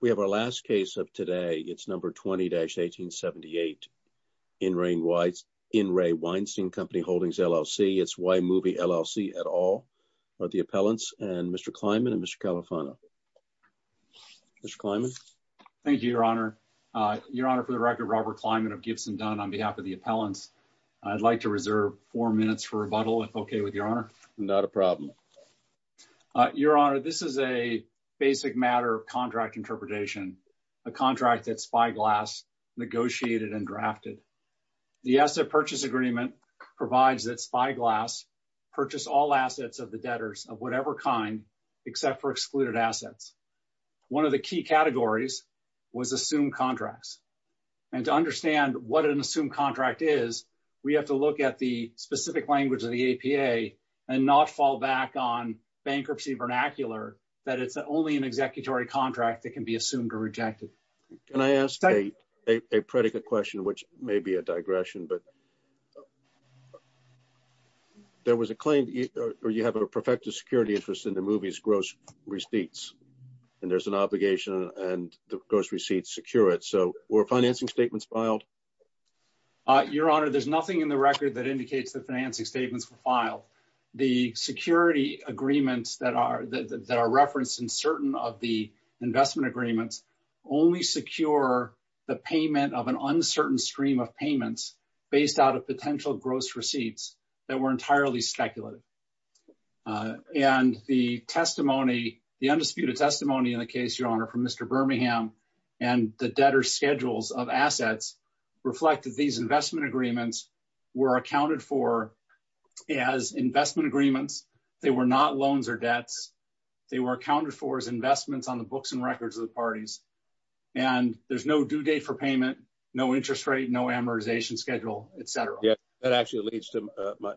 We have our last case of today. It's number 20-1878 in rain whites in Ray Weinstein Company Holdings LLC. It's why movie LLC at all, but the appellants and Mr Kleiman and Mr Califano Mr Kleiman. Thank you, Your Honor. Your Honor for the record Robert Kleiman of Gibson done on behalf of the appellants. I'd like to reserve four minutes for rebuttal if okay with Your Honor, not a problem. Your Honor. This is a basic matter of contract interpretation a contract that spyglass negotiated and drafted the asset purchase agreement provides that spyglass purchase all assets of the debtors of whatever kind except for excluded assets. One of the key categories was assumed contracts and to understand what an assumed contract is. We have to look at the specific language of the APA and not fall back on bankruptcy vernacular that it's only an executory contract that can be assumed or rejected. Can I ask a predicate question which may be a digression but There was a claim or you have a perfected security interest in the movies gross receipts and there's an obligation and the gross receipts secure it. So we're financing statements filed. Your Honor. There's nothing in the record that indicates the financing statements filed the security agreements that are that are referenced in certain of the investment agreements only secure the payment of an uncertain stream of payments based out of potential gross receipts that were entirely speculative. And the testimony the undisputed testimony in the case, Your Honor from Mr. Birmingham and the debtor schedules of assets reflected these investment agreements were accounted for as investment agreements. They were not loans or debts. They were accounted for as investments on the books and records of the parties and there's no due date for payment. No interest rate. No amortization schedule, etc. Yeah, that actually leads to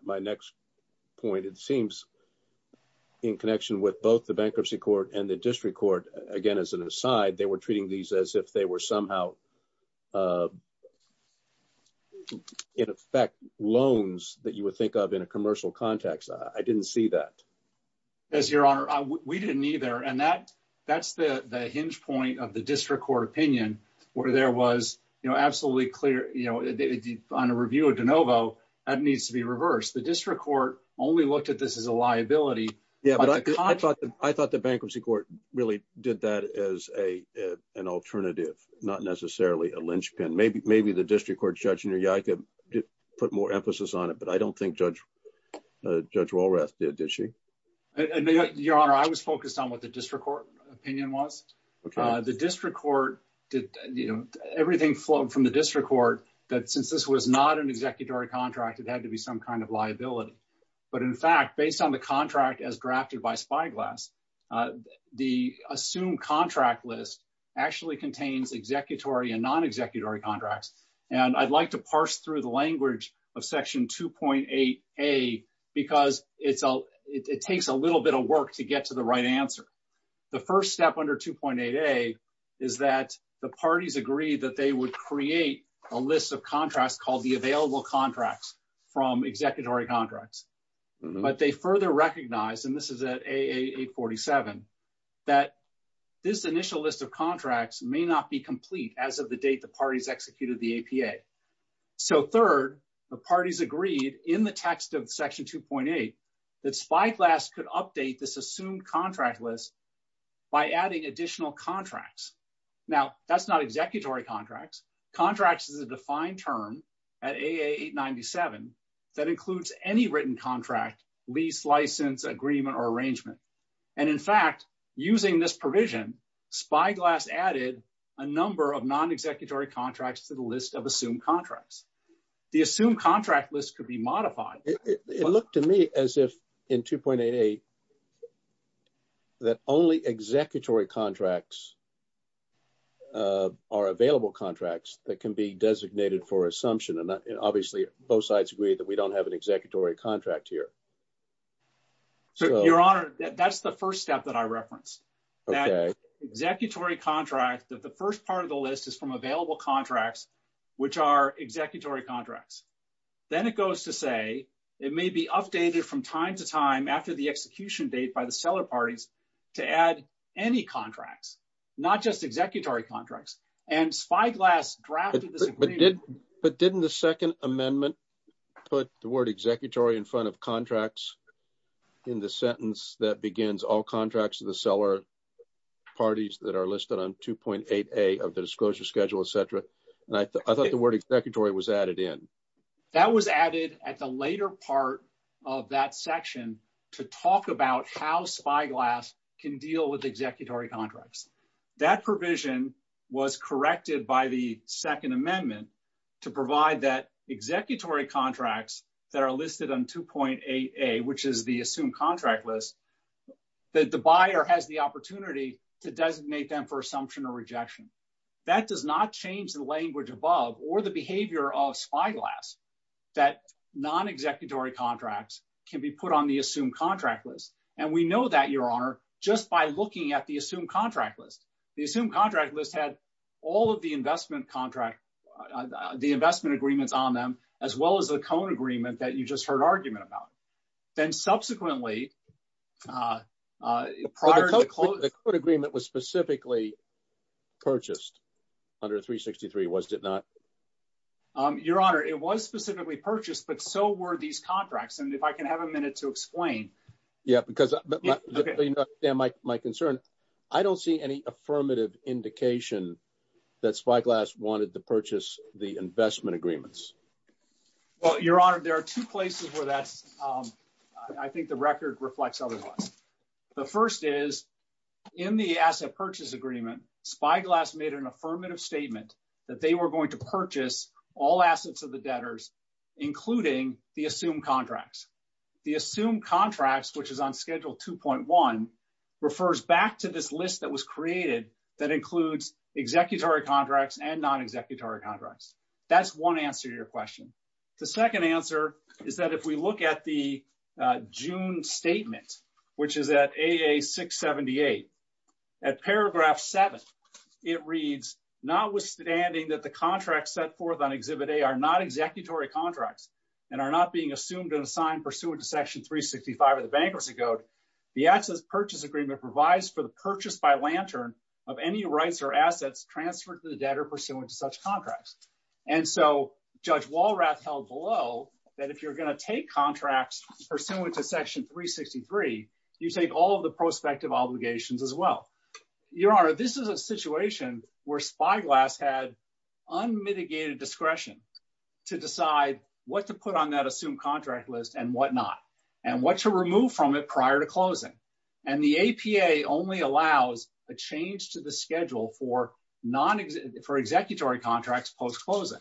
my next point. It seems in connection with both the bankruptcy court and the district court again as an aside. They were treating these as if they were somehow In effect loans that you would think of in a commercial context. I didn't see that. As your honor. We didn't either and that that's the hinge point of the district court opinion where there was, you know, absolutely clear, you know, on a review of de novo that needs to be reversed the district court only looked at this as a liability. Yeah, but I thought I thought the bankruptcy court really did that as a an alternative not necessarily a linchpin maybe maybe the district court judge in your yard to put more emphasis on it, but I don't think Judge Judge Walrath did she. Your honor. I was focused on what the district court opinion was the district court. Did you know everything flowed from the district court that since this was not an executory contract. It had to be some kind of liability. But in fact, based on the contract as drafted by spyglass the assumed contract list actually contains executory and non executory contracts and I'd like to parse through the language of section 2.8 a because it's all it takes a little bit of work to get to the right answer. The first step under 2.8 a is that the parties agree that they would create a list of contracts called the available contracts from executory contracts, but they further recognize and this is a 47 that this initial list of contracts may not be complete as of the date the parties executed the APA. So third, the parties agreed in the text of section 2.8 that spyglass could update this assumed contract list by adding additional contracts. Now, that's not executory contracts contracts is a defined term at 897 that includes any written contract lease license agreement or arrangement. And in fact, using this provision spyglass added a number of non executory contracts to the list of assumed contracts, the assumed contract list could be modified. It looked to me as if in 2.8 a. That only executory contracts. Are available contracts that can be designated for assumption and obviously both sides agree that we don't have an executory contract here. So, your honor, that's the 1st step that I referenced. But didn't the 2nd amendment. Put the word executory in front of contracts. In the sentence that begins all contracts to the seller parties that are listed on 2.8 a of the disclosure schedule, etc. And I thought the word executory was added in that was added at the later part of that section to talk about how spyglass can deal with executory contracts. That provision was corrected by the 2nd amendment to provide that executory contracts that are listed on 2.8 a which is the assumed contract list. The buyer has the opportunity to designate them for assumption or rejection that does not change the language above or the behavior of spyglass. That non executory contracts can be put on the assumed contract list and we know that your honor just by looking at the assumed contract list. The assumed contract list had all of the investment contract. The investment agreements on them as well as the cone agreement that you just heard argument about. Then subsequently, uh, prior to the agreement was specifically. Purchased under 363, was it not? Your honor, it was specifically purchased, but so were these contracts and if I can have a minute to explain. Yeah, because my concern, I don't see any affirmative indication. That's why glass wanted to purchase the investment agreements. Well, your honor, there are 2 places where that's, um, I think the record reflects otherwise. The 1st is in the asset purchase agreement spyglass made an affirmative statement that they were going to purchase all assets of the debtors, including the assumed contracts. The assumed contracts, which is on schedule 2.1 refers back to this list that was created. That includes executory contracts and non executory contracts. That's 1 answer to your question. The 2nd answer is that if we look at the June statement, which is at a 678. At paragraph 7, it reads notwithstanding that the contract set forth on exhibit. They are not executory contracts. And are not being assumed and assigned pursuant to section 365 of the bankruptcy code. The access purchase agreement provides for the purchase by lantern of any rights or assets transferred to the debtor pursuant to such contracts. And so judge Walrath held below that if you're going to take contracts pursuant to section 363, you take all of the prospective obligations as well. Your honor, this is a situation where spyglass had unmitigated discretion to decide what to put on that assumed contract list and whatnot. And what to remove from it prior to closing. And the APA only allows a change to the schedule for non for executory contracts post closing.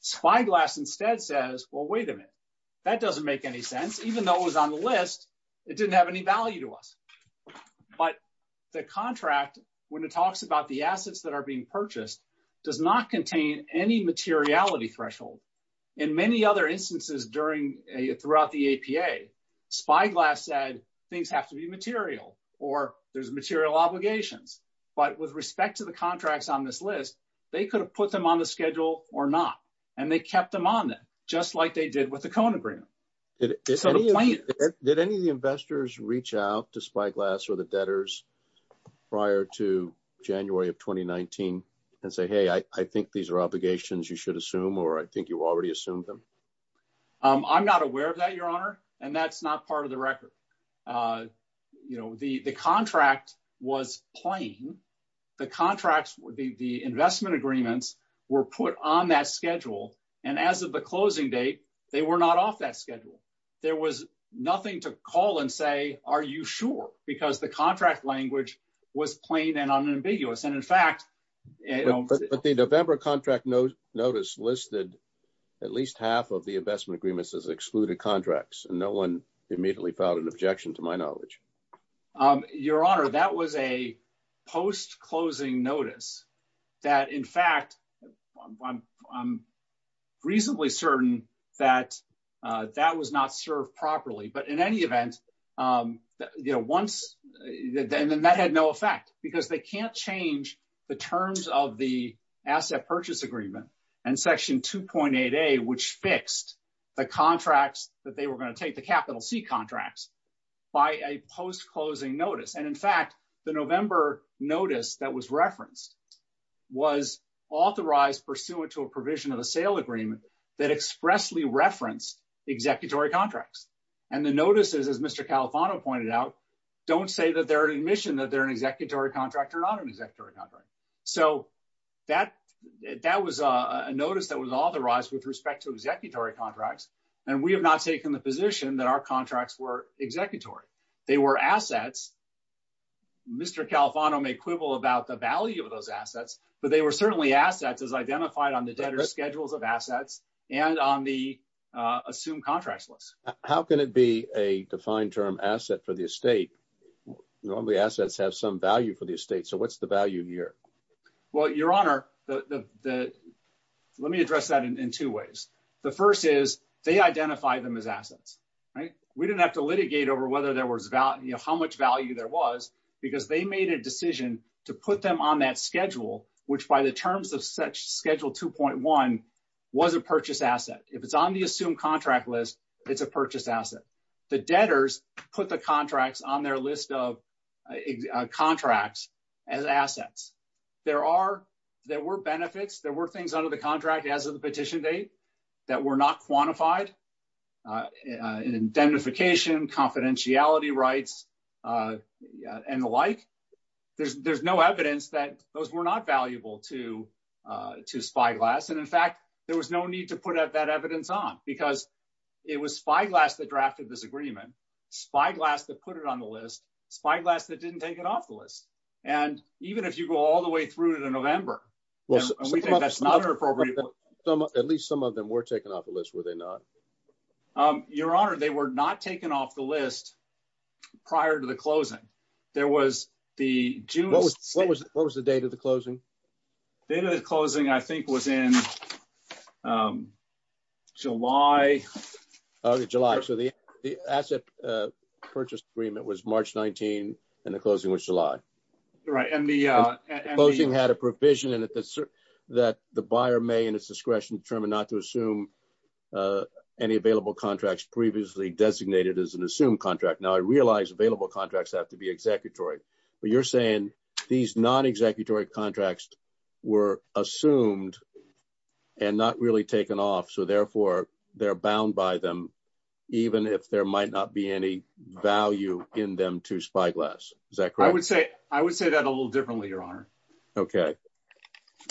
Spyglass instead says, well, wait a minute. That doesn't make any sense, even though it was on the list. It didn't have any value to us. But the contract, when it talks about the assets that are being purchased, does not contain any materiality threshold. In many other instances during throughout the APA, spyglass said things have to be material or there's material obligations. But with respect to the contracts on this list, they could have put them on the schedule or not. And they kept them on it just like they did with the cone agreement. Did any of the investors reach out to spyglass or the debtors prior to January of 2019 and say, hey, I think these are obligations you should assume or I think you already assumed them. I'm not aware of that, your honor. And that's not part of the record. You know, the the contract was playing the contracts would be the investment agreements were put on that schedule. And as of the closing date, they were not off that schedule. There was nothing to call and say, are you sure? Because the contract language was plain and unambiguous. And in fact, the November contract notice listed at least half of the investment agreements as excluded contracts. And no one immediately filed an objection to my knowledge. Your honor, that was a post-closing notice that, in fact, I'm reasonably certain that that was not served properly. But in any event, you know, once that had no effect because they can't change the terms of the asset purchase agreement and section 2.8, a which fixed the contracts that they were going to take the capital C contracts by a post-closing notice. And in fact, the November notice that was referenced was authorized pursuant to a provision of a sale agreement that expressly referenced executory contracts. And the notices, as Mr. Califano pointed out, don't say that they're an admission that they're an executory contract or not an executory contract. So that that was a notice that was authorized with respect to executory contracts. And we have not taken the position that our contracts were executory. They were assets. Mr. Califano may quibble about the value of those assets, but they were certainly assets as identified on the debtor schedules of assets and on the assumed contracts list. How can it be a defined term asset for the estate? Normally, assets have some value for the estate. So what's the value here? Well, your honor, the let me address that in two ways. The first is they identify them as assets. We didn't have to litigate over whether there was value, how much value there was, because they made a decision to put them on that schedule, which by the terms of such schedule 2.1 was a purchase asset. If it's on the assumed contract list, it's a purchase asset. The debtors put the contracts on their list of contracts as assets. There are there were benefits. There were things under the contract as of the petition date that were not quantified in identification, confidentiality rights and the like. There's there's no evidence that those were not valuable to to spyglass. And in fact, there was no need to put out that evidence on because it was spyglass that drafted this agreement. Spyglass that put it on the list, spyglass that didn't take it off the list. And even if you go all the way through to November, we think that's not appropriate. At least some of them were taken off the list, were they not? Your honor, they were not taken off the list prior to the closing. There was the June. What was the date of the closing? The closing, I think, was in July, July. So the asset purchase agreement was March 19 and the closing was July. Right. And the closing had a provision that the buyer may in its discretion determine not to assume any available contracts previously designated as an assumed contract. Now, I realize available contracts have to be executory, but you're saying these non-executory contracts were assumed and not really taken off. So, therefore, they're bound by them, even if there might not be any value in them to spyglass. Is that correct? I would say I would say that a little differently. Your honor.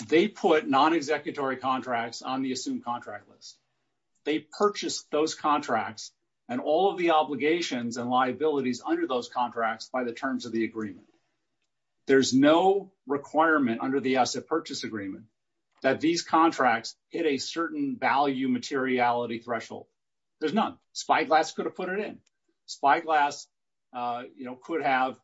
They put non-executory contracts on the assumed contract list. They purchased those contracts and all of the obligations and liabilities under those contracts by the terms of the agreement. There's no requirement under the asset purchase agreement that these contracts hit a certain value materiality threshold. There's none. Spyglass could have put it in. Spyglass could have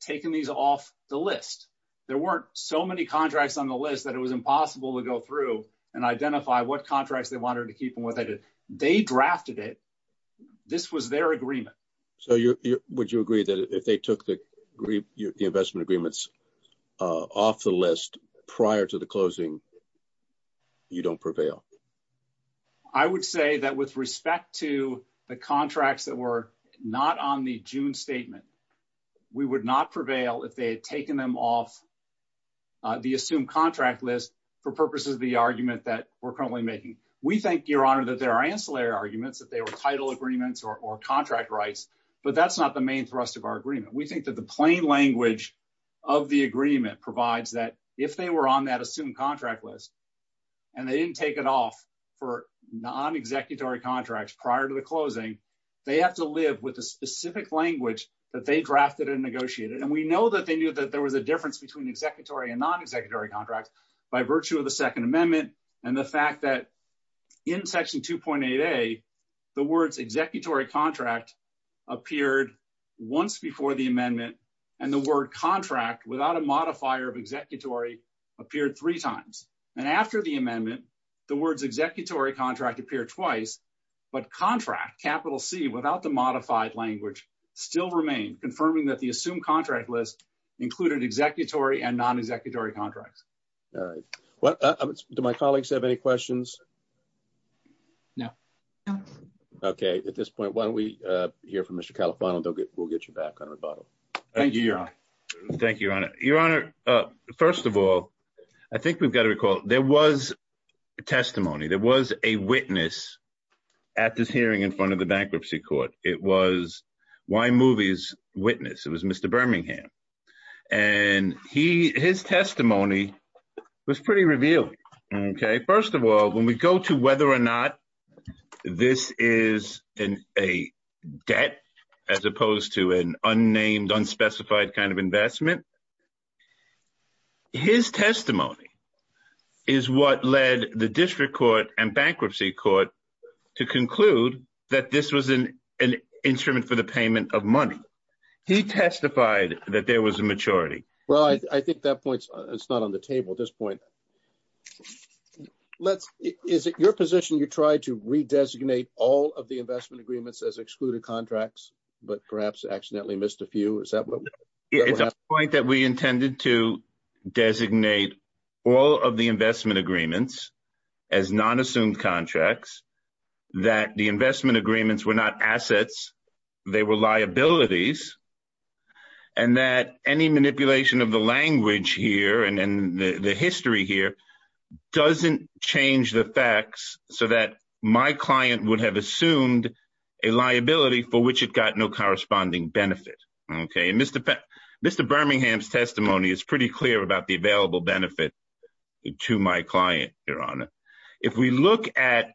taken these off the list. There weren't so many contracts on the list that it was impossible to go through and identify what contracts they wanted to keep and what they did. They drafted it. This was their agreement. So would you agree that if they took the investment agreements off the list prior to the closing? You don't prevail. I would say that with respect to the contracts that were not on the June statement, we would not prevail if they had taken them off the assumed contract list for purposes of the argument that we're currently making. We think, your honor, that there are ancillary arguments that they were title agreements or contract rights. But that's not the main thrust of our agreement. We think that the plain language of the agreement provides that if they were on that assumed contract list and they didn't take it off for non-executory contracts prior to the closing, they have to live with a specific language that they drafted and negotiated. And we know that they knew that there was a difference between executory and non-executory contracts by virtue of the Second Amendment and the fact that in Section 2.8a, the words executory contract appeared once before the amendment and the word contract without a modifier of executory appeared three times. And after the amendment, the words executory contract appear twice. But contract, capital C, without the modified language still remain, confirming that the assumed contract list included executory and non-executory contracts. All right. Well, do my colleagues have any questions? No. OK, at this point, why don't we hear from Mr. Califano and we'll get you back on rebuttal. Thank you, your honor. Thank you, your honor. Your honor. First of all, I think we've got to recall there was testimony. There was a witness at this hearing in front of the bankruptcy court. It was why movies witness it was Mr. Birmingham. And he his testimony was pretty revealing. OK, first of all, when we go to whether or not this is a debt as opposed to an unnamed, unspecified kind of investment. His testimony is what led the district court and bankruptcy court to conclude that this was an instrument for the payment of money. He testified that there was a maturity. Well, I think that points it's not on the table at this point. Let's is it your position you try to redesignate all of the investment agreements as excluded contracts, but perhaps accidentally missed a few. Is that what it's a point that we intended to designate all of the investment agreements as non-assumed contracts, that the investment agreements were not assets. They were liabilities and that any manipulation of the language here and the history here doesn't change the facts so that my client would have assumed a liability for which it got no corresponding benefit. OK, and Mr. Mr. Birmingham's testimony is pretty clear about the available benefit to my client. If we look at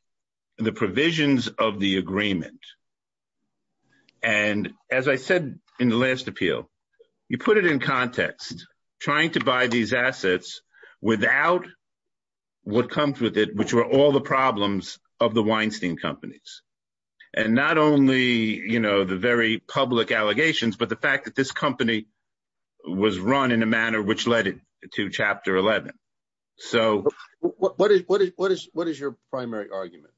the provisions of the agreement. And as I said in the last appeal, you put it in context, trying to buy these assets without what comes with it, which were all the problems of the Weinstein companies. And not only, you know, the very public allegations, but the fact that this company was run in a manner which led to Chapter 11. So what is what is what is what is your primary argument?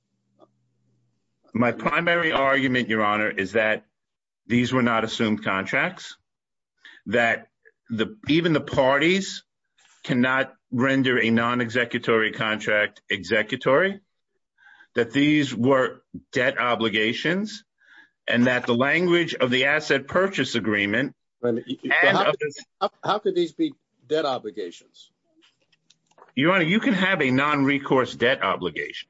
My primary argument, Your Honor, is that these were not assumed contracts, that the even the parties cannot render a non-executory contract executory, that these were debt obligations and that the language of the asset purchase agreement. How could these be debt obligations? Your Honor, you can have a non-recourse debt obligation.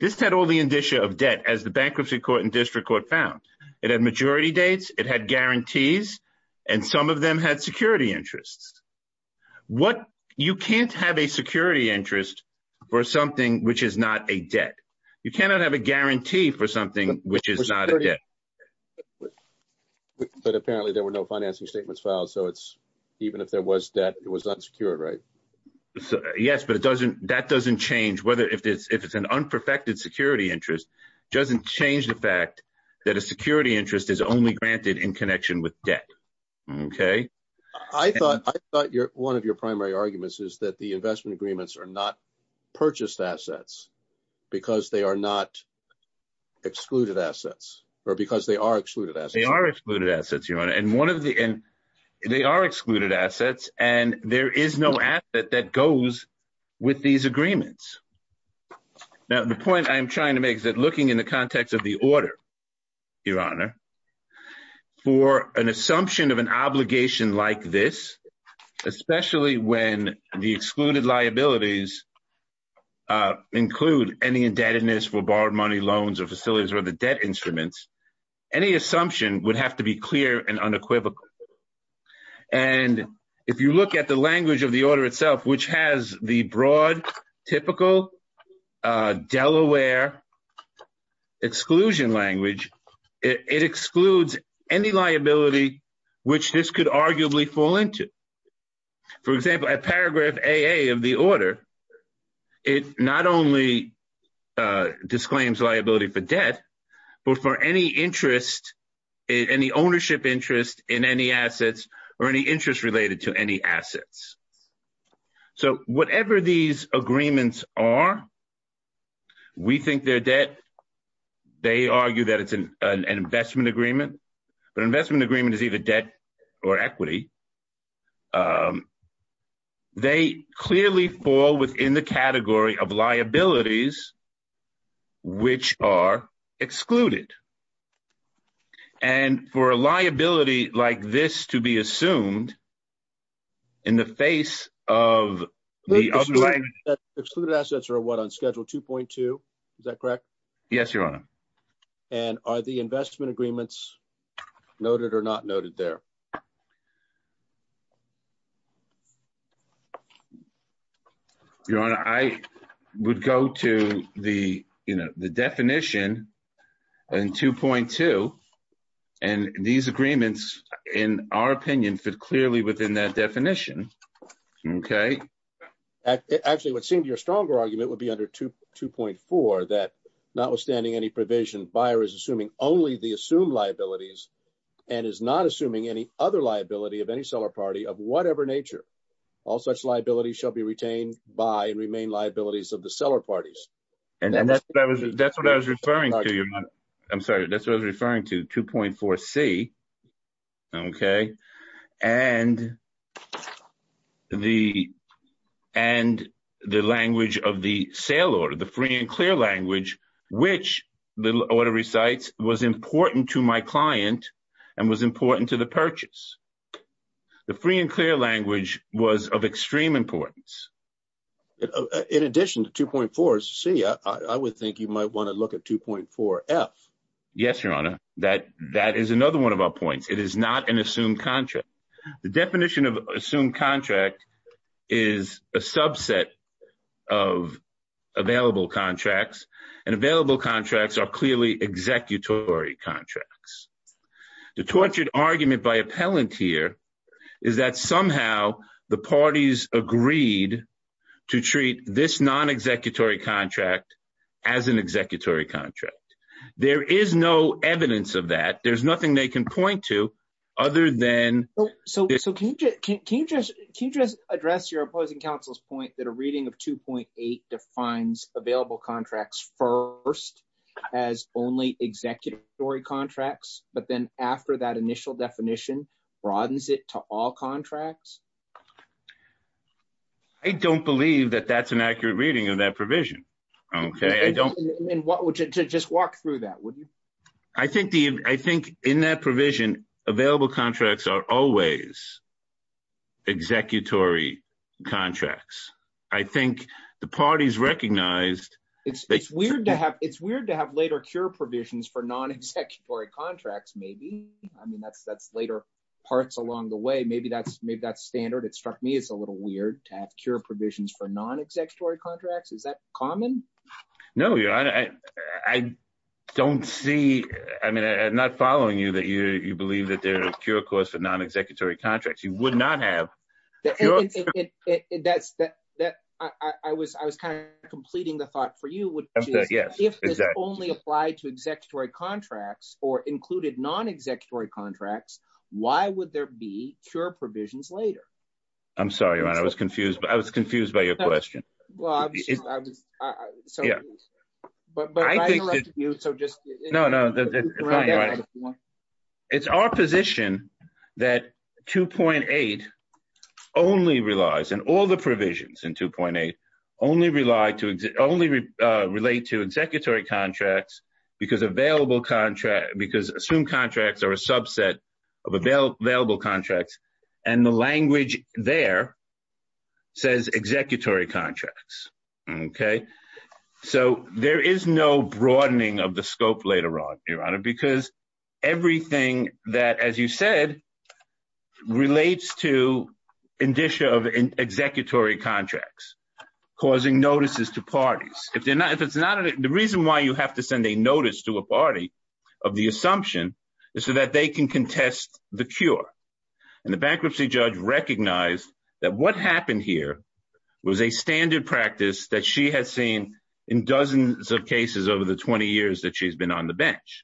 This had all the indicia of debt, as the Bankruptcy Court and District Court found. It had majority dates, it had guarantees and some of them had security interests. What you can't have a security interest for something which is not a debt. You cannot have a guarantee for something which is not a debt. But apparently there were no financing statements filed. So it's even if there was debt, it was unsecured, right? Yes, but it doesn't that doesn't change whether if it's if it's an unperfected security interest, doesn't change the fact that a security interest is only granted in connection with debt. OK, I thought I thought one of your primary arguments is that the investment agreements are not purchased assets because they are not excluded assets or because they are excluded as they are excluded assets. And one of the and they are excluded assets. And there is no asset that goes with these agreements. Now, the point I'm trying to make is that looking in the context of the order, Your Honor, for an assumption of an obligation like this, especially when the excluded liabilities include any indebtedness for borrowed money, loans or facilities or the debt instruments. Any assumption would have to be clear and unequivocal. And if you look at the language of the order itself, which has the broad, typical Delaware exclusion language, it excludes any liability which this could arguably fall into. For example, a paragraph of the order, it not only disclaims liability for debt, but for any interest, any ownership interest in any assets or any interest related to any assets. So whatever these agreements are, we think they're debt. They argue that it's an investment agreement, but investment agreement is either debt or equity. They clearly fall within the category of liabilities. Which are excluded. And for a liability like this to be assumed. In the face of the other language. Excluded assets are what on schedule 2.2. Is that correct? Yes, Your Honor. And are the investment agreements noted or not noted there? Your Honor, I would go to the, you know, the definition and 2.2. And these agreements, in our opinion, fit clearly within that definition. Okay. Actually, what seemed to be a stronger argument would be under 2.4. That notwithstanding any provision, buyer is assuming only the assumed liabilities. And is not assuming any other liability of any seller party of whatever nature. All such liabilities shall be retained by and remain liabilities of the seller parties. And that's what I was referring to, Your Honor. I'm sorry. That's what I was referring to. 2.4c. Okay. And the language of the sale order. The free and clear language. Which the order recites was important to my client. And was important to the purchase. The free and clear language was of extreme importance. In addition to 2.4c, I would think you might want to look at 2.4f. Yes, Your Honor. That is another one of our points. It is not an assumed contract. The definition of assumed contract is a subset of available contracts. And available contracts are clearly executory contracts. The tortured argument by appellant here is that somehow the parties agreed to treat this non-executory contract as an executory contract. There is no evidence of that. There is nothing they can point to other than. So can you just address your opposing counsel's point that a reading of 2.8 defines available contracts first as only executory contracts. But then after that initial definition broadens it to all contracts? I don't believe that that's an accurate reading of that provision. Okay. Just walk through that, would you? I think in that provision available contracts are always executory contracts. I think the parties recognized. It's weird to have later cure provisions for non-executory contracts maybe. I mean that's later parts along the way. Maybe that's standard. It struck me as a little weird to have cure provisions for non-executory contracts. Is that common? No, Your Honor. I don't see. I mean I'm not following you that you believe that there is a cure course for non-executory contracts. You would not have. I was kind of completing the thought for you. If this only applied to executory contracts or included non-executory contracts, why would there be cure provisions later? I'm sorry, Your Honor. I was confused. I was confused by your question. Well, I was so confused. But I interrupted you, so just. No, no. It's our position that 2.8 only relies, and all the provisions in 2.8 only relate to executory contracts because assumed contracts are a subset of available contracts, and the language there says executory contracts, okay? So there is no broadening of the scope later on, Your Honor, because everything that, as you said, relates to indicia of executory contracts causing notices to parties. The reason why you have to send a notice to a party of the assumption is so that they can contest the cure. And the bankruptcy judge recognized that what happened here was a standard practice that she has seen in dozens of cases over the 20 years that she's been on the bench.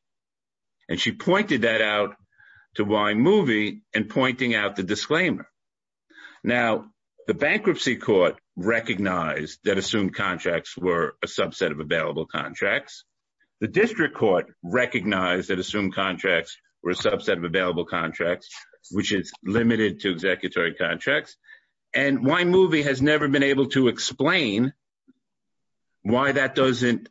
And she pointed that out to Wymovie in pointing out the disclaimer. Now, the bankruptcy court recognized that assumed contracts were a subset of available contracts. The district court recognized that assumed contracts were a subset of available contracts, which is limited to executory contracts. And Wymovie has never been able to explain why that doesn't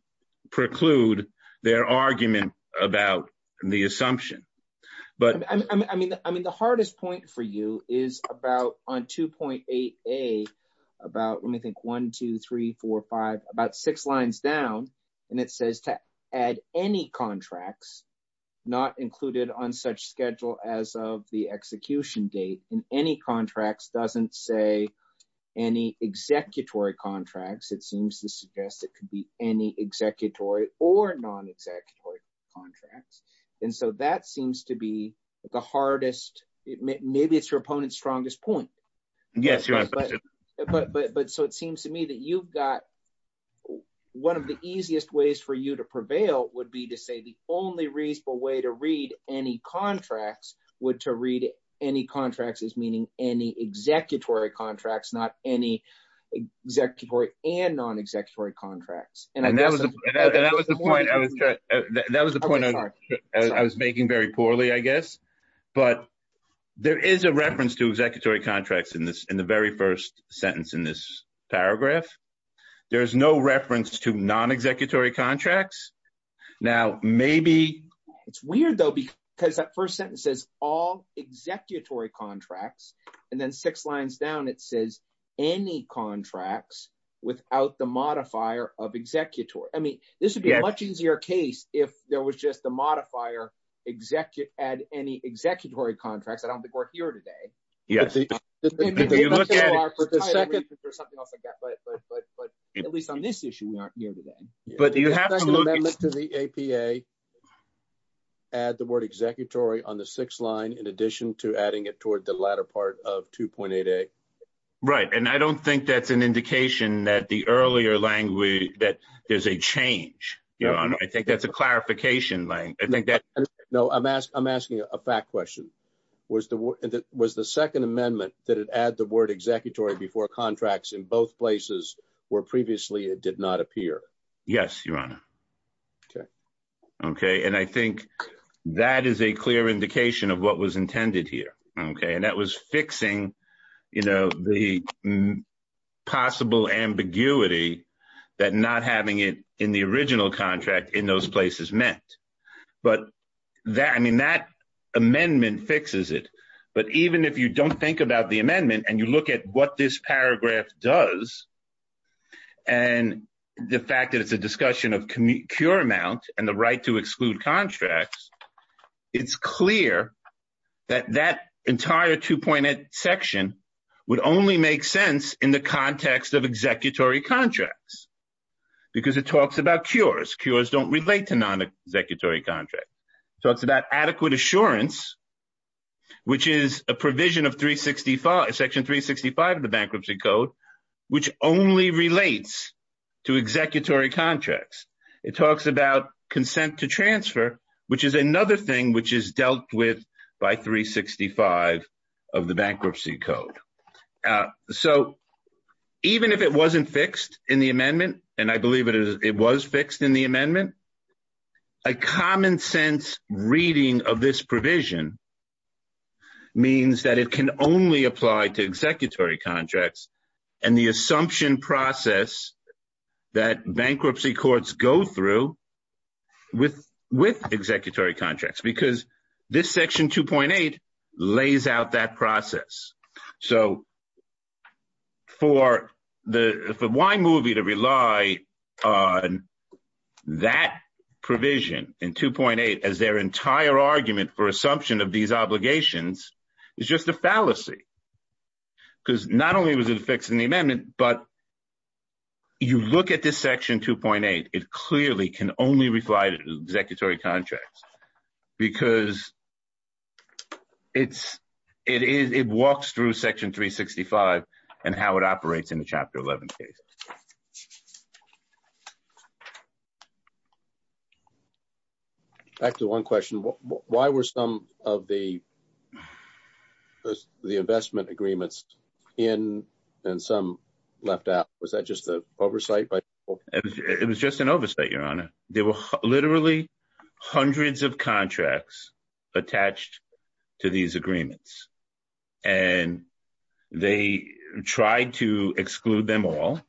preclude their argument about the assumption. I mean, the hardest point for you is about, on 2.8a, about, let me think, 1, 2, 3, 4, 5, about six lines down, and it says to add any contracts not included on such schedule as of the execution date. And any contracts doesn't say any executory contracts. It seems to suggest it could be any executory or non-executory contracts. And so that seems to be the hardest – maybe it's your opponent's strongest point. Yes, Your Honor. But so it seems to me that you've got – one of the easiest ways for you to prevail would be to say the only reasonable way to read any contracts would to read any contracts as meaning any executory contracts, not any executory and non-executory contracts. And that was the point I was making very poorly, I guess. But there is a reference to executory contracts in the very first sentence in this paragraph. There is no reference to non-executory contracts. Now, maybe – It's weird, though, because that first sentence says all executory contracts, and then six lines down it says any contracts without the modifier of executory. I mean this would be a much easier case if there was just the modifier add any executory contracts. I don't think we're here today. Yes. If you look at it – But at least on this issue we aren't here today. But you have to look – The second amendment to the APA add the word executory on the sixth line in addition to adding it toward the latter part of 2.8a. Right. And I don't think that's an indication that the earlier language – that there's a change, Your Honor. I think that's a clarification. I think that – No, I'm asking a fact question. Was the second amendment that had added the word executory before contracts in both places where previously it did not appear? Yes, Your Honor. Okay. Okay. And I think that is a clear indication of what was intended here. Okay. And that was fixing, you know, the possible ambiguity that not having it in the original contract in those places meant. But, I mean, that amendment fixes it. But even if you don't think about the amendment and you look at what this paragraph does and the fact that it's a discussion of cure amount and the right to exclude contracts, it's clear that that entire 2.8 section would only make sense in the context of executory contracts because it talks about cures. Cures don't relate to non-executory contracts. It talks about adequate assurance, which is a provision of Section 365 of the Bankruptcy Code, which only relates to executory contracts. It talks about consent to transfer, which is another thing which is dealt with by 365 of the Bankruptcy Code. So even if it wasn't fixed in the amendment, and I believe it was fixed in the amendment, a common-sense reading of this provision means that it can only apply to executory contracts and the assumption process that bankruptcy courts go through with executory contracts because this Section 2.8 lays out that process. So for the Y movie to rely on that provision in 2.8 as their entire argument for assumption of these obligations is just a fallacy because not only was it fixed in the amendment, but you look at this Section 2.8, it clearly can only apply to executory contracts because it walks through Section 365 and how it operates in the Chapter 11 case. Back to one question. Why were some of the investment agreements in and some left out? Was that just an oversight by people? It was just an oversight, Your Honor. There were literally hundreds of contracts attached to these agreements, and they tried to exclude them all.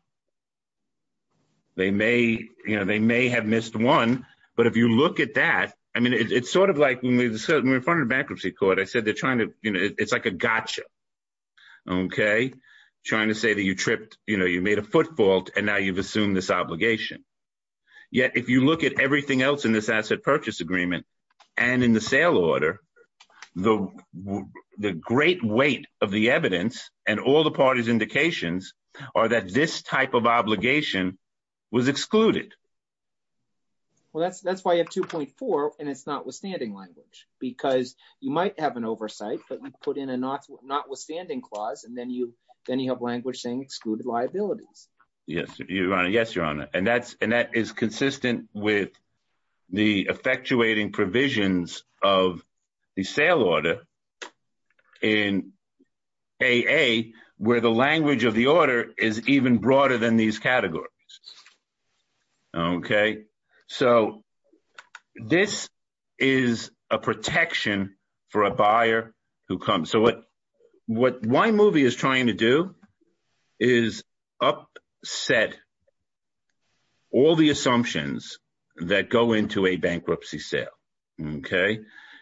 They may have missed one, but if you look at that, I mean, it's sort of like when we were in front of the Bankruptcy Court, I said they're trying to, you know, it's like a gotcha, okay? Trying to say that you tripped, you know, you made a footfault, and now you've assumed this obligation. Yet if you look at everything else in this asset purchase agreement and in the sale order, the great weight of the evidence and all the parties' indications are that this type of obligation was excluded. Well, that's why you have 2.4, and it's notwithstanding language because you might have an oversight, but we put in a notwithstanding clause, and then you have language saying excluded liabilities. Yes, Your Honor. And that is consistent with the effectuating provisions of the sale order in AA where the language of the order is even broader than these categories, okay? So this is a protection for a buyer who comes. So what one movie is trying to do is upset all the assumptions that go into a bankruptcy sale, okay?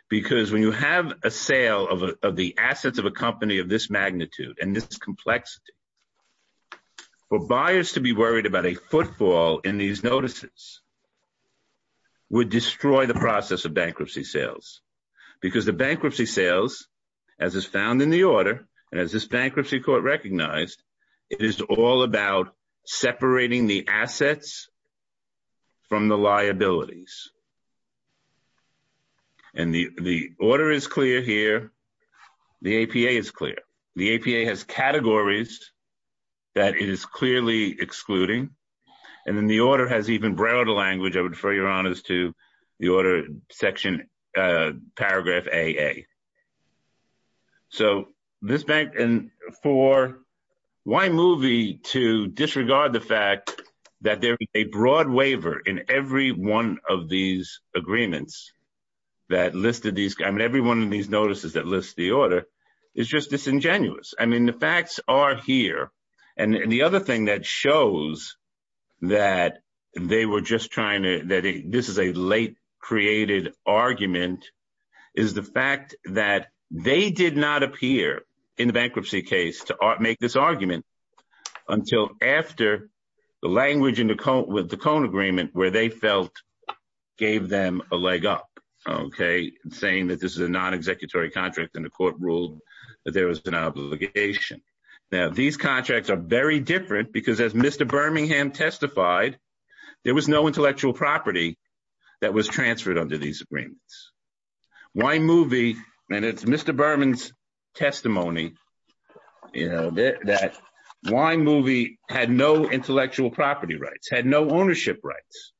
Because when you have a sale of the assets of a company of this magnitude and this complexity, for buyers to be worried about a footfall in these notices would destroy the process of bankruptcy sales because the bankruptcy sales, as is found in the order, and as this bankruptcy court recognized, it is all about separating the assets from the liabilities. And the order is clear here. The APA is clear. The APA has categories that it is clearly excluding, and then the order has even broader language. I would defer, Your Honors, to the order section, paragraph AA. So this bank, and for one movie to disregard the fact that there is a broad waiver in every one of these agreements that listed these, I mean, every one of these notices that lists the order is just disingenuous. I mean, the facts are here. And the other thing that shows that they were just trying to, that this is a late-created argument, is the fact that they did not appear in the bankruptcy case to make this argument until after the language in the Cone Agreement where they felt gave them a leg up, okay, and saying that this is a non-executory contract and the court ruled that there was an obligation. Now, these contracts are very different because, as Mr. Birmingham testified, there was no intellectual property that was transferred under these agreements. One movie, and it's Mr. Berman's testimony, you know, that one movie had no intellectual property rights, had no ownership rights.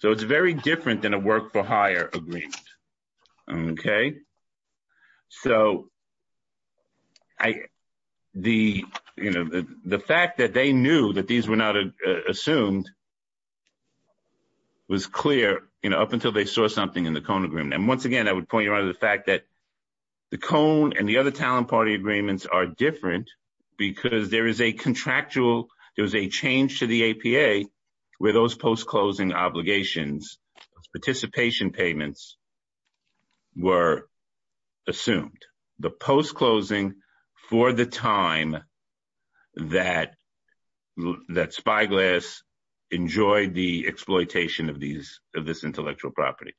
So it's very different than a work-for-hire agreement, okay? So the fact that they knew that these were not assumed was clear, you know, up until they saw something in the Cone Agreement. And once again, I would point you on the fact that the Cone and the other talent party agreements are different because there is a contractual, there was a change to the APA where those post-closing obligations, participation payments, were assumed. The post-closing for the time that Spyglass enjoyed the exploitation of this intellectual property.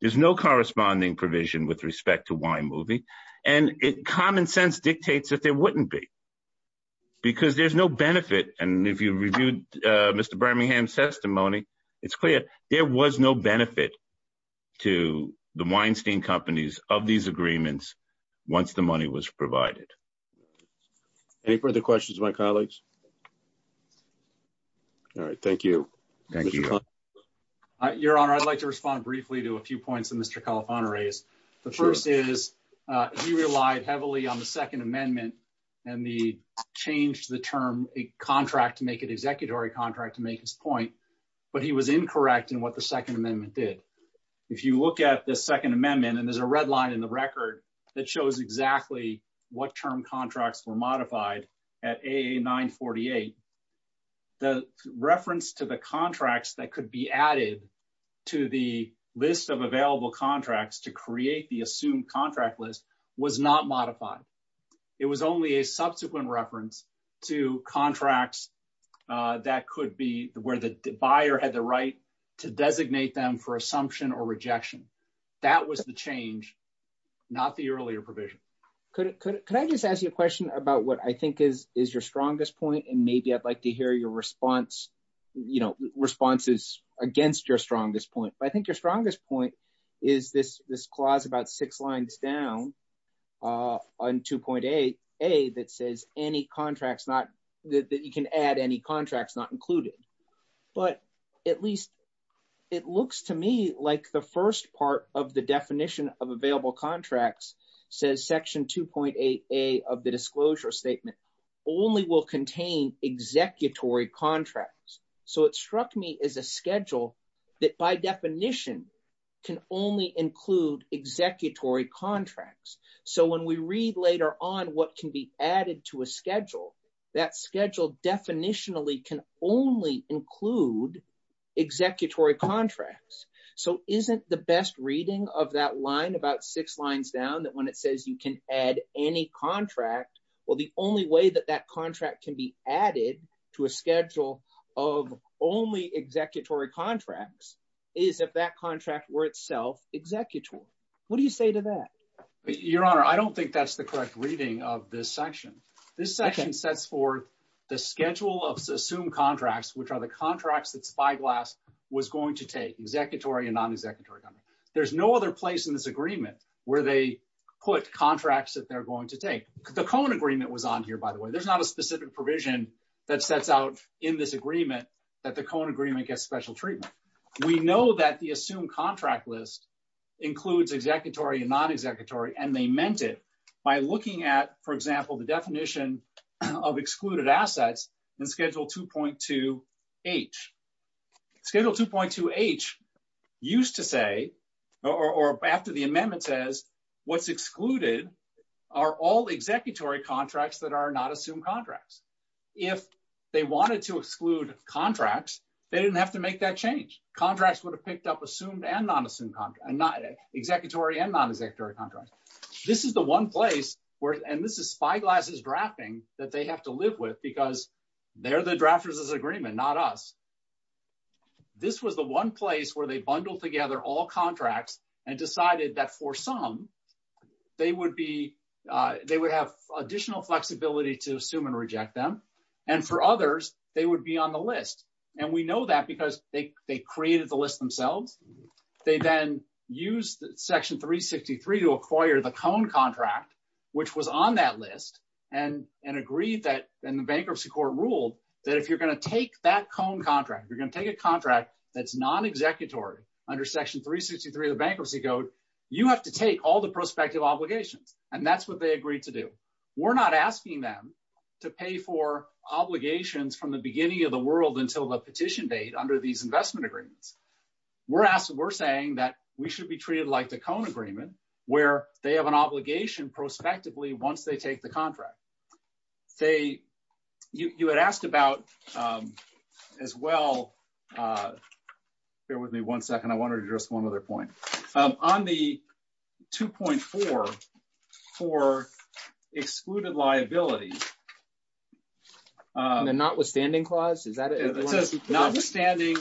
There's no corresponding provision with respect to why movie, and common sense dictates that there wouldn't be because there's no benefit. And if you reviewed Mr. Birmingham's testimony, it's clear. There was no benefit to the Weinstein companies of these agreements once the money was provided. Any further questions, my colleagues? All right. Thank you. Your Honor, I'd like to respond briefly to a few points that Mr. Califano raised. The first is he relied heavily on the Second Amendment and the change to the term, a contract to make it an executory contract to make his point. But he was incorrect in what the Second Amendment did. If you look at the Second Amendment, and there's a red line in the record that shows exactly what term contracts were modified at AA 948, the reference to the contracts that could be added to the list of available contracts to create the assumed contract list was not modified. It was only a subsequent reference to contracts that could be where the buyer had the right to designate them for assumption or rejection. That was the change, not the earlier provision. Could I just ask you a question about what I think is your strongest point? And maybe I'd like to hear your response, you know, responses against your strongest point. I think your strongest point is this clause about six lines down on 2.8a that says any contracts not that you can add any contracts not included. But at least it looks to me like the first part of the definition of available contracts says section 2.8a of the disclosure statement only will contain executory contracts. So it struck me as a schedule that by definition can only include executory contracts. So when we read later on what can be added to a schedule, that schedule definitionally can only include executory contracts. So isn't the best reading of that line about six lines down that when it says you can add any contract, well, the only way that that contract can be added to a schedule of only executory contracts is if that contract were itself executory. So what do you say to that? Your Honor, I don't think that's the correct reading of this section. This section sets forth the schedule of assumed contracts, which are the contracts that Spyglass was going to take, executory and non-executory. There's no other place in this agreement where they put contracts that they're going to take. The Cohn agreement was on here, by the way. There's not a specific provision that sets out in this agreement that the Cohn agreement gets special treatment. We know that the assumed contract list includes executory and non-executory, and they meant it by looking at, for example, the definition of excluded assets in Schedule 2.2H. Schedule 2.2H used to say, or after the amendment says, what's excluded are all executory contracts that are not assumed contracts. If they wanted to exclude contracts, they didn't have to make that change. Contracts would have picked up assumed and non-executory contracts. This is the one place, and this is Spyglass's drafting that they have to live with because they're the drafters of this agreement, not us. This was the one place where they bundled together all contracts and decided that for some, they would have additional flexibility to assume and reject them, and for others, they would be on the list. And we know that because they created the list themselves. They then used Section 363 to acquire the Cohn contract, which was on that list, and agreed that, and the Bankruptcy Court ruled that if you're going to take that Cohn contract, you're going to take a contract that's non-executory under Section 363 of the Bankruptcy Code, you have to take all the prospective obligations, and that's what they agreed to do. We're not asking them to pay for obligations from the beginning of the world until the petition date under these investment agreements. We're saying that we should be treated like the Cohn agreement, where they have an obligation prospectively once they take the contract. You had asked about, as well, bear with me one second. I want to address one other point. On the 2.4 for excluded liabilities. The notwithstanding clause, is that it? It says, notwithstanding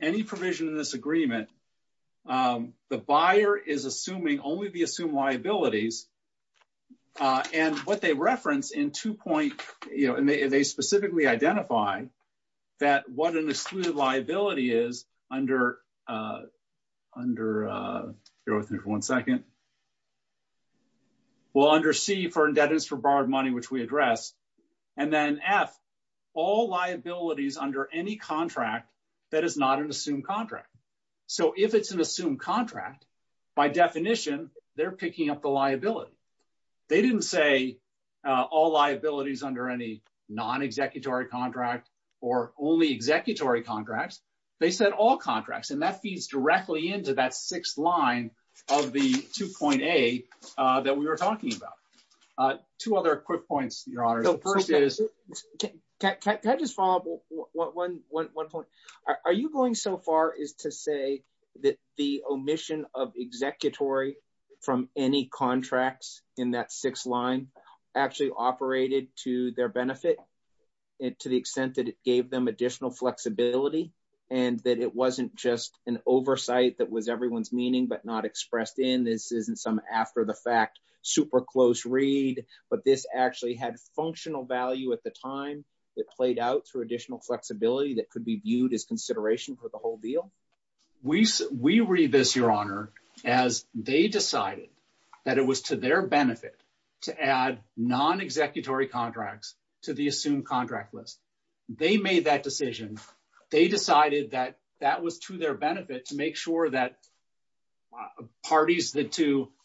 any provision in this agreement, the buyer is assuming only the assumed liabilities, and what they reference in two point, you know, and they specifically identify that what an excluded liability is under, bear with me for one second. Well, under C for indebtedness for borrowed money, which we addressed, and then F, all liabilities under any contract that is not an assumed contract. So if it's an assumed contract, by definition, they're picking up the liability. They didn't say all liabilities under any non-executory contract or only executory contracts. They said all contracts, and that feeds directly into that sixth line of the two point A that we were talking about. Two other quick points, your honor. First is, can I just follow up on one point? Are you going so far as to say that the omission of executory from any contracts in that sixth line actually operated to their benefit? To the extent that it gave them additional flexibility and that it wasn't just an oversight that was everyone's meaning but not expressed in, this isn't some after the fact super close read, but this actually had functional value at the time. It played out through additional flexibility that could be viewed as consideration for the whole deal. We read this, your honor, as they decided that it was to their benefit to add non-executory contracts to the assumed contract list. They made that decision. They decided that that was to their benefit to make sure that parties,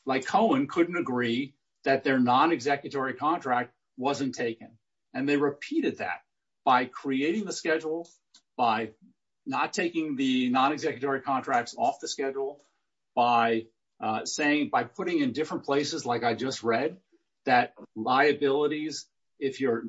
like Cohen, couldn't agree that their non-executory contract wasn't taken. They repeated that by creating the schedule, by not taking the non-executory contracts off the schedule, by saying, by putting in different places, like I just read, that liabilities, if you're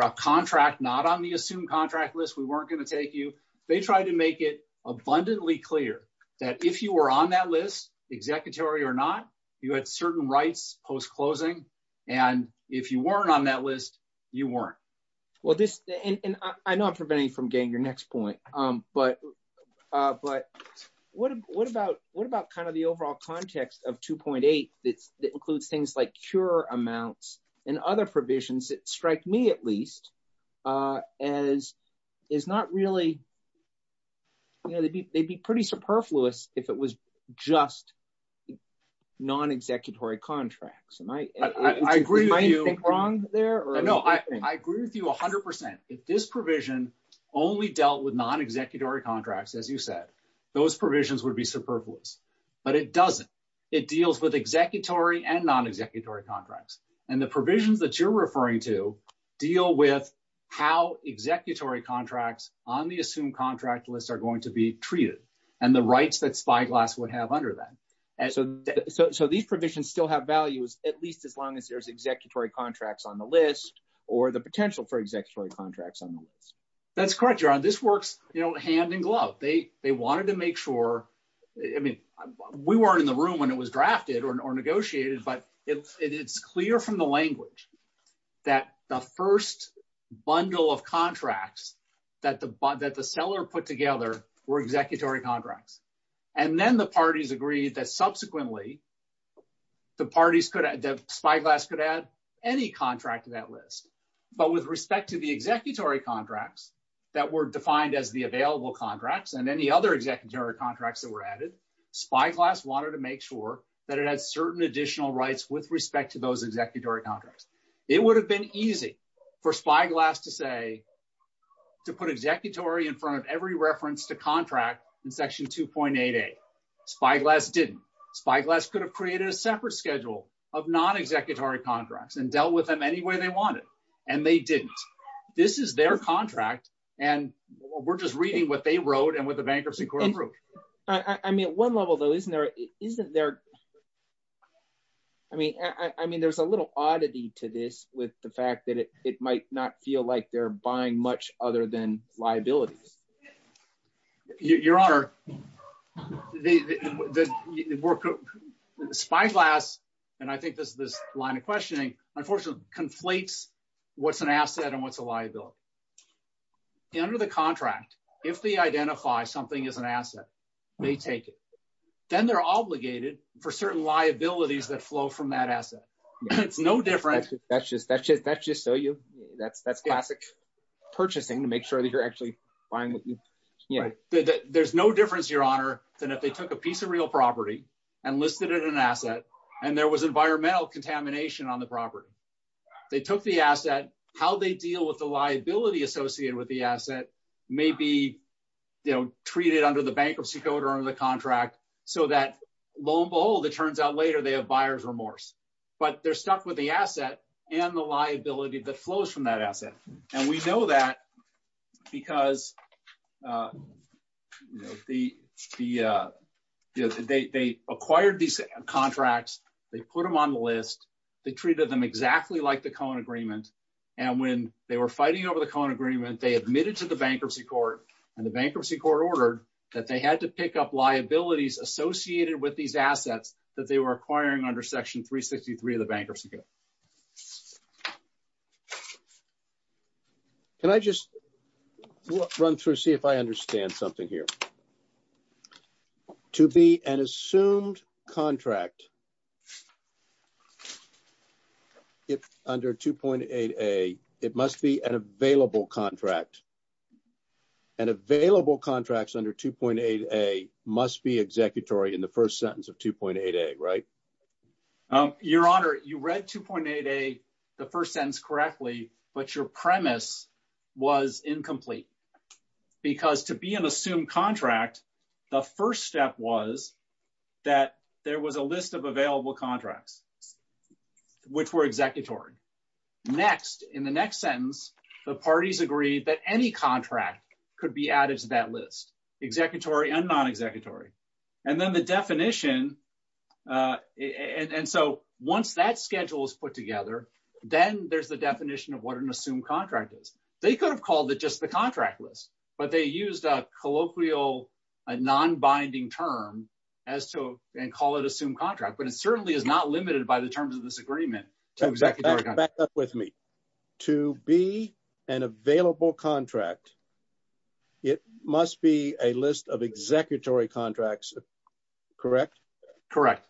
a contract not on the assumed contract list, we weren't going to take you. They tried to make it abundantly clear that if you were on that list, executory or not, you had certain rights post-closing, and if you weren't on that list, you weren't. Well, I know I'm preventing you from getting your next point, but what about kind of the overall context of 2.8 that includes things like cure amounts and other provisions that strike me at least as is not really, you know, they'd be pretty superfluous if it was just non-executory contracts. Am I thinking wrong there? No, I agree with you 100%. If this provision only dealt with non-executory contracts, as you said, those provisions would be superfluous. But it doesn't. It deals with executory and non-executory contracts. And the provisions that you're referring to deal with how executory contracts on the assumed contract list are going to be treated and the rights that Spyglass would have under that. So these provisions still have values at least as long as there's executory contracts on the list or the potential for executory contracts on the list. That's correct, John. This works, you know, hand in glove. They wanted to make sure, I mean, we weren't in the room when it was drafted or negotiated, but it's clear from the language that the first bundle of contracts that the seller put together were executory contracts. And then the parties agreed that subsequently Spyglass could add any contract to that list. But with respect to the executory contracts that were defined as the available contracts and any other executory contracts that were added, Spyglass wanted to make sure that it had certain additional rights with respect to those executory contracts. It would have been easy for Spyglass to say, to put executory in front of every reference to contract in Section 2.88. Spyglass didn't. Spyglass could have created a separate schedule of non-executory contracts and dealt with them any way they wanted. And they didn't. This is their contract, and we're just reading what they wrote and what the bankruptcy court approved. I mean, at one level, though, isn't there? I mean, there's a little oddity to this with the fact that it might not feel like they're buying much other than liabilities. Your Honor, Spyglass, and I think this is this line of questioning, unfortunately, conflates what's an asset and what's a liability. Under the contract, if they identify something as an asset, they take it. Then they're obligated for certain liabilities that flow from that asset. It's no different. That's just so you – that's classic purchasing to make sure that you're actually buying what you – There's no difference, Your Honor, than if they took a piece of real property and listed it as an asset, and there was environmental contamination on the property. They took the asset. How they deal with the liability associated with the asset may be treated under the bankruptcy code or under the contract so that, lo and behold, it turns out later they have buyer's remorse. But they're stuck with the asset and the liability that flows from that asset. And we know that because they acquired these contracts. They put them on the list. They treated them exactly like the Cohen Agreement. And when they were fighting over the Cohen Agreement, they admitted to the bankruptcy court. And the bankruptcy court ordered that they had to pick up liabilities associated with these assets that they were acquiring under Section 363 of the bankruptcy code. Can I just run through, see if I understand something here? To be an assumed contract under 2.8a, it must be an available contract. And available contracts under 2.8a must be executory in the first sentence of 2.8a, right? Your Honor, you read 2.8a, the first sentence, correctly, but your premise was incomplete. Because to be an assumed contract, the first step was that there was a list of available contracts, which were executory. Next, in the next sentence, the parties agreed that any contract could be added to that list, executory and non-executory. And then the definition, and so once that schedule is put together, then there's the definition of what an assumed contract is. They could have called it just the contract list, but they used a colloquial, non-binding term and call it assumed contract. But it certainly is not limited by the terms of this agreement. Back up with me. To be an available contract, it must be a list of executory contracts, correct? Correct.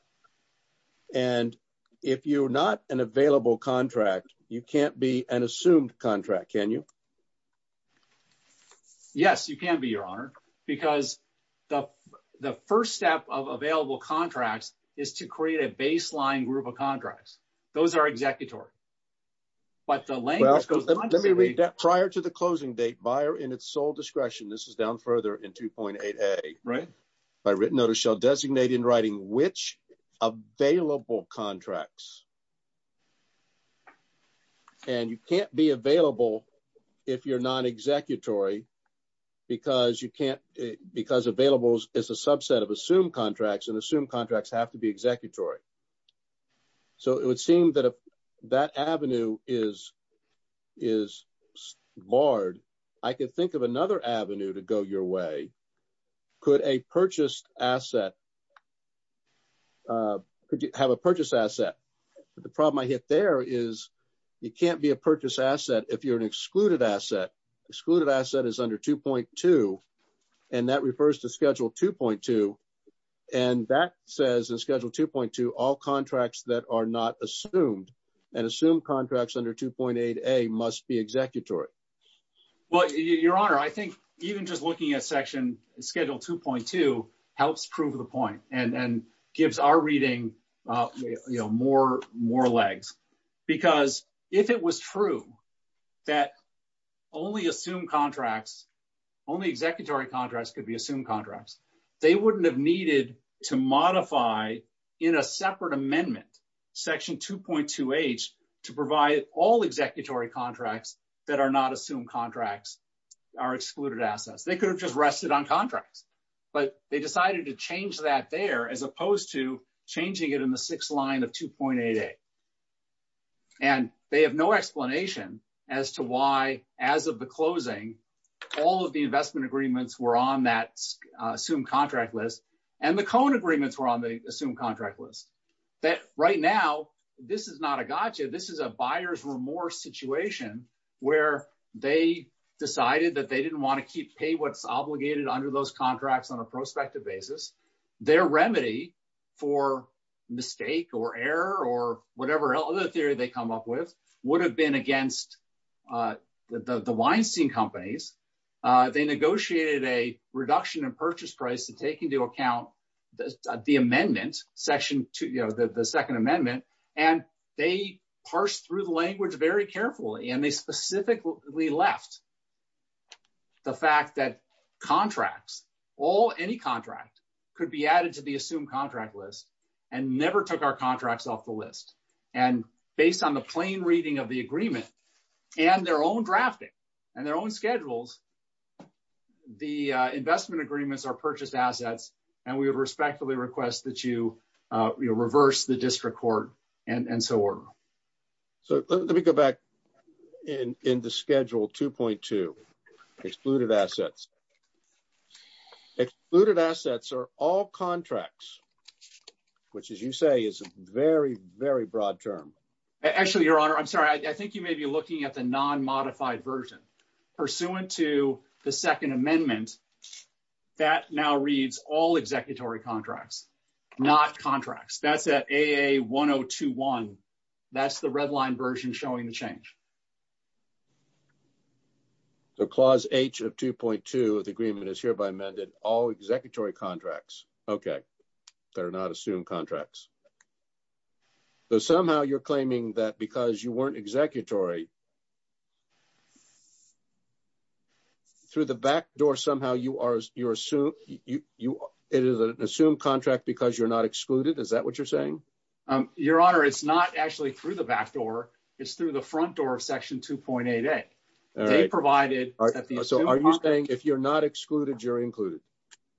And if you're not an available contract, you can't be an assumed contract, can you? Yes, you can be, Your Honor. Because the first step of available contracts is to create a baseline group of contracts. Those are executory. But the language goes on to be… Let me read that. Prior to the closing date, buyer in its sole discretion, this is down further in 2.8a. Right. By written note, it shall designate in writing which available contracts. And you can't be available if you're non-executory because you can't… Because available is a subset of assumed contracts, and assumed contracts have to be executory. So it would seem that that avenue is barred. I could think of another avenue to go your way. Could a purchased asset… Could you have a purchased asset? The problem I hit there is you can't be a purchased asset if you're an excluded asset. Excluded asset is under 2.2, and that refers to Schedule 2.2. And that says in Schedule 2.2, all contracts that are not assumed and assumed contracts under 2.8a must be executory. Your Honor, I think even just looking at Schedule 2.2 helps prove the point and gives our reading more legs. Because if it was true that only assumed contracts, only executory contracts could be assumed contracts, they wouldn't have needed to modify in a separate amendment, Section 2.2h, to provide all executory contracts that are not assumed contracts are excluded assets. They could have just rested on contracts, but they decided to change that there as opposed to changing it in the sixth line of 2.8a. And they have no explanation as to why, as of the closing, all of the investment agreements were on that assumed contract list, and the cone agreements were on the assumed contract list. Right now, this is not a gotcha. This is a buyer's remorse situation where they decided that they didn't want to keep pay what's obligated under those contracts on a prospective basis. Their remedy for mistake or error or whatever other theory they come up with would have been against the Weinstein companies. They negotiated a reduction in purchase price to take into account the amendment, the second amendment, and they parsed through the language very carefully, and they specifically left the fact that contracts, any contract, could be added to the assumed contract list and never took our contracts off the list. And based on the plain reading of the agreement and their own drafting and their own schedules, the investment agreements are purchased assets, and we would respectfully request that you reverse the district court and so on. So let me go back into schedule 2.2, excluded assets. Excluded assets are all contracts, which, as you say, is a very, very broad term. Actually, Your Honor, I'm sorry. I think you may be looking at the non-modified version. The non-modified version of the agreement pursuant to the second amendment, that now reads all executory contracts, not contracts. That's at AA1021. That's the red line version showing the change. So Clause H of 2.2 of the agreement is hereby amended, all executory contracts. Okay. They're not assumed contracts. So somehow you're claiming that because you weren't executory, through the back door somehow it is an assumed contract because you're not excluded. Is that what you're saying? Your Honor, it's not actually through the back door. It's through the front door of Section 2.8A. They provided that the assumed contract – So are you saying if you're not excluded, you're included?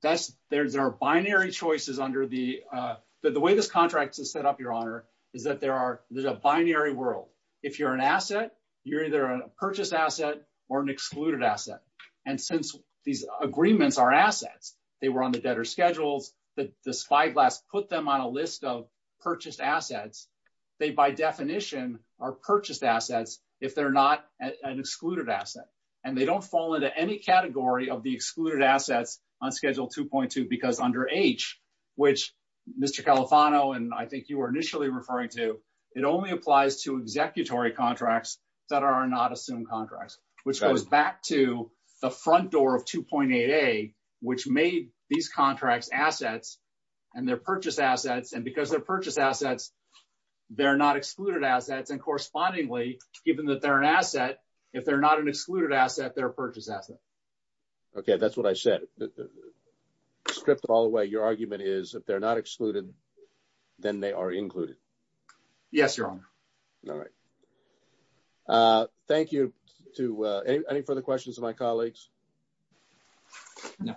There are binary choices under the – the way this contract is set up, Your Honor, is that there's a binary world. If you're an asset, you're either a purchased asset or an excluded asset. And since these agreements are assets, they were on the debtor's schedules. The spyglass put them on a list of purchased assets. They, by definition, are purchased assets if they're not an excluded asset. And they don't fall into any category of the excluded assets on Schedule 2.2 because under H, which Mr. Califano and I think you were initially referring to, it only applies to executory contracts that are not assumed contracts, which goes back to the front door of 2.8A, which made these contracts assets and they're purchased assets. And because they're purchased assets, they're not excluded assets. And correspondingly, given that they're an asset, if they're not an excluded asset, they're a purchased asset. Okay, that's what I said. Script all the way, your argument is if they're not excluded, then they are included. Yes, Your Honor. All right. Thank you. Any further questions of my colleagues? No.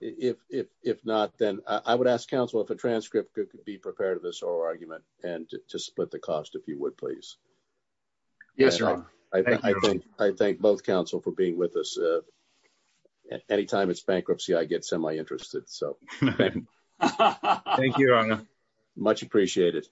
If not, then I would ask counsel if a transcript could be prepared to this oral argument and to split the cost if you would, please. Yes, Your Honor. I thank both counsel for being with us. Anytime it's bankruptcy, I get semi-interested. Thank you, Your Honor. Much appreciated.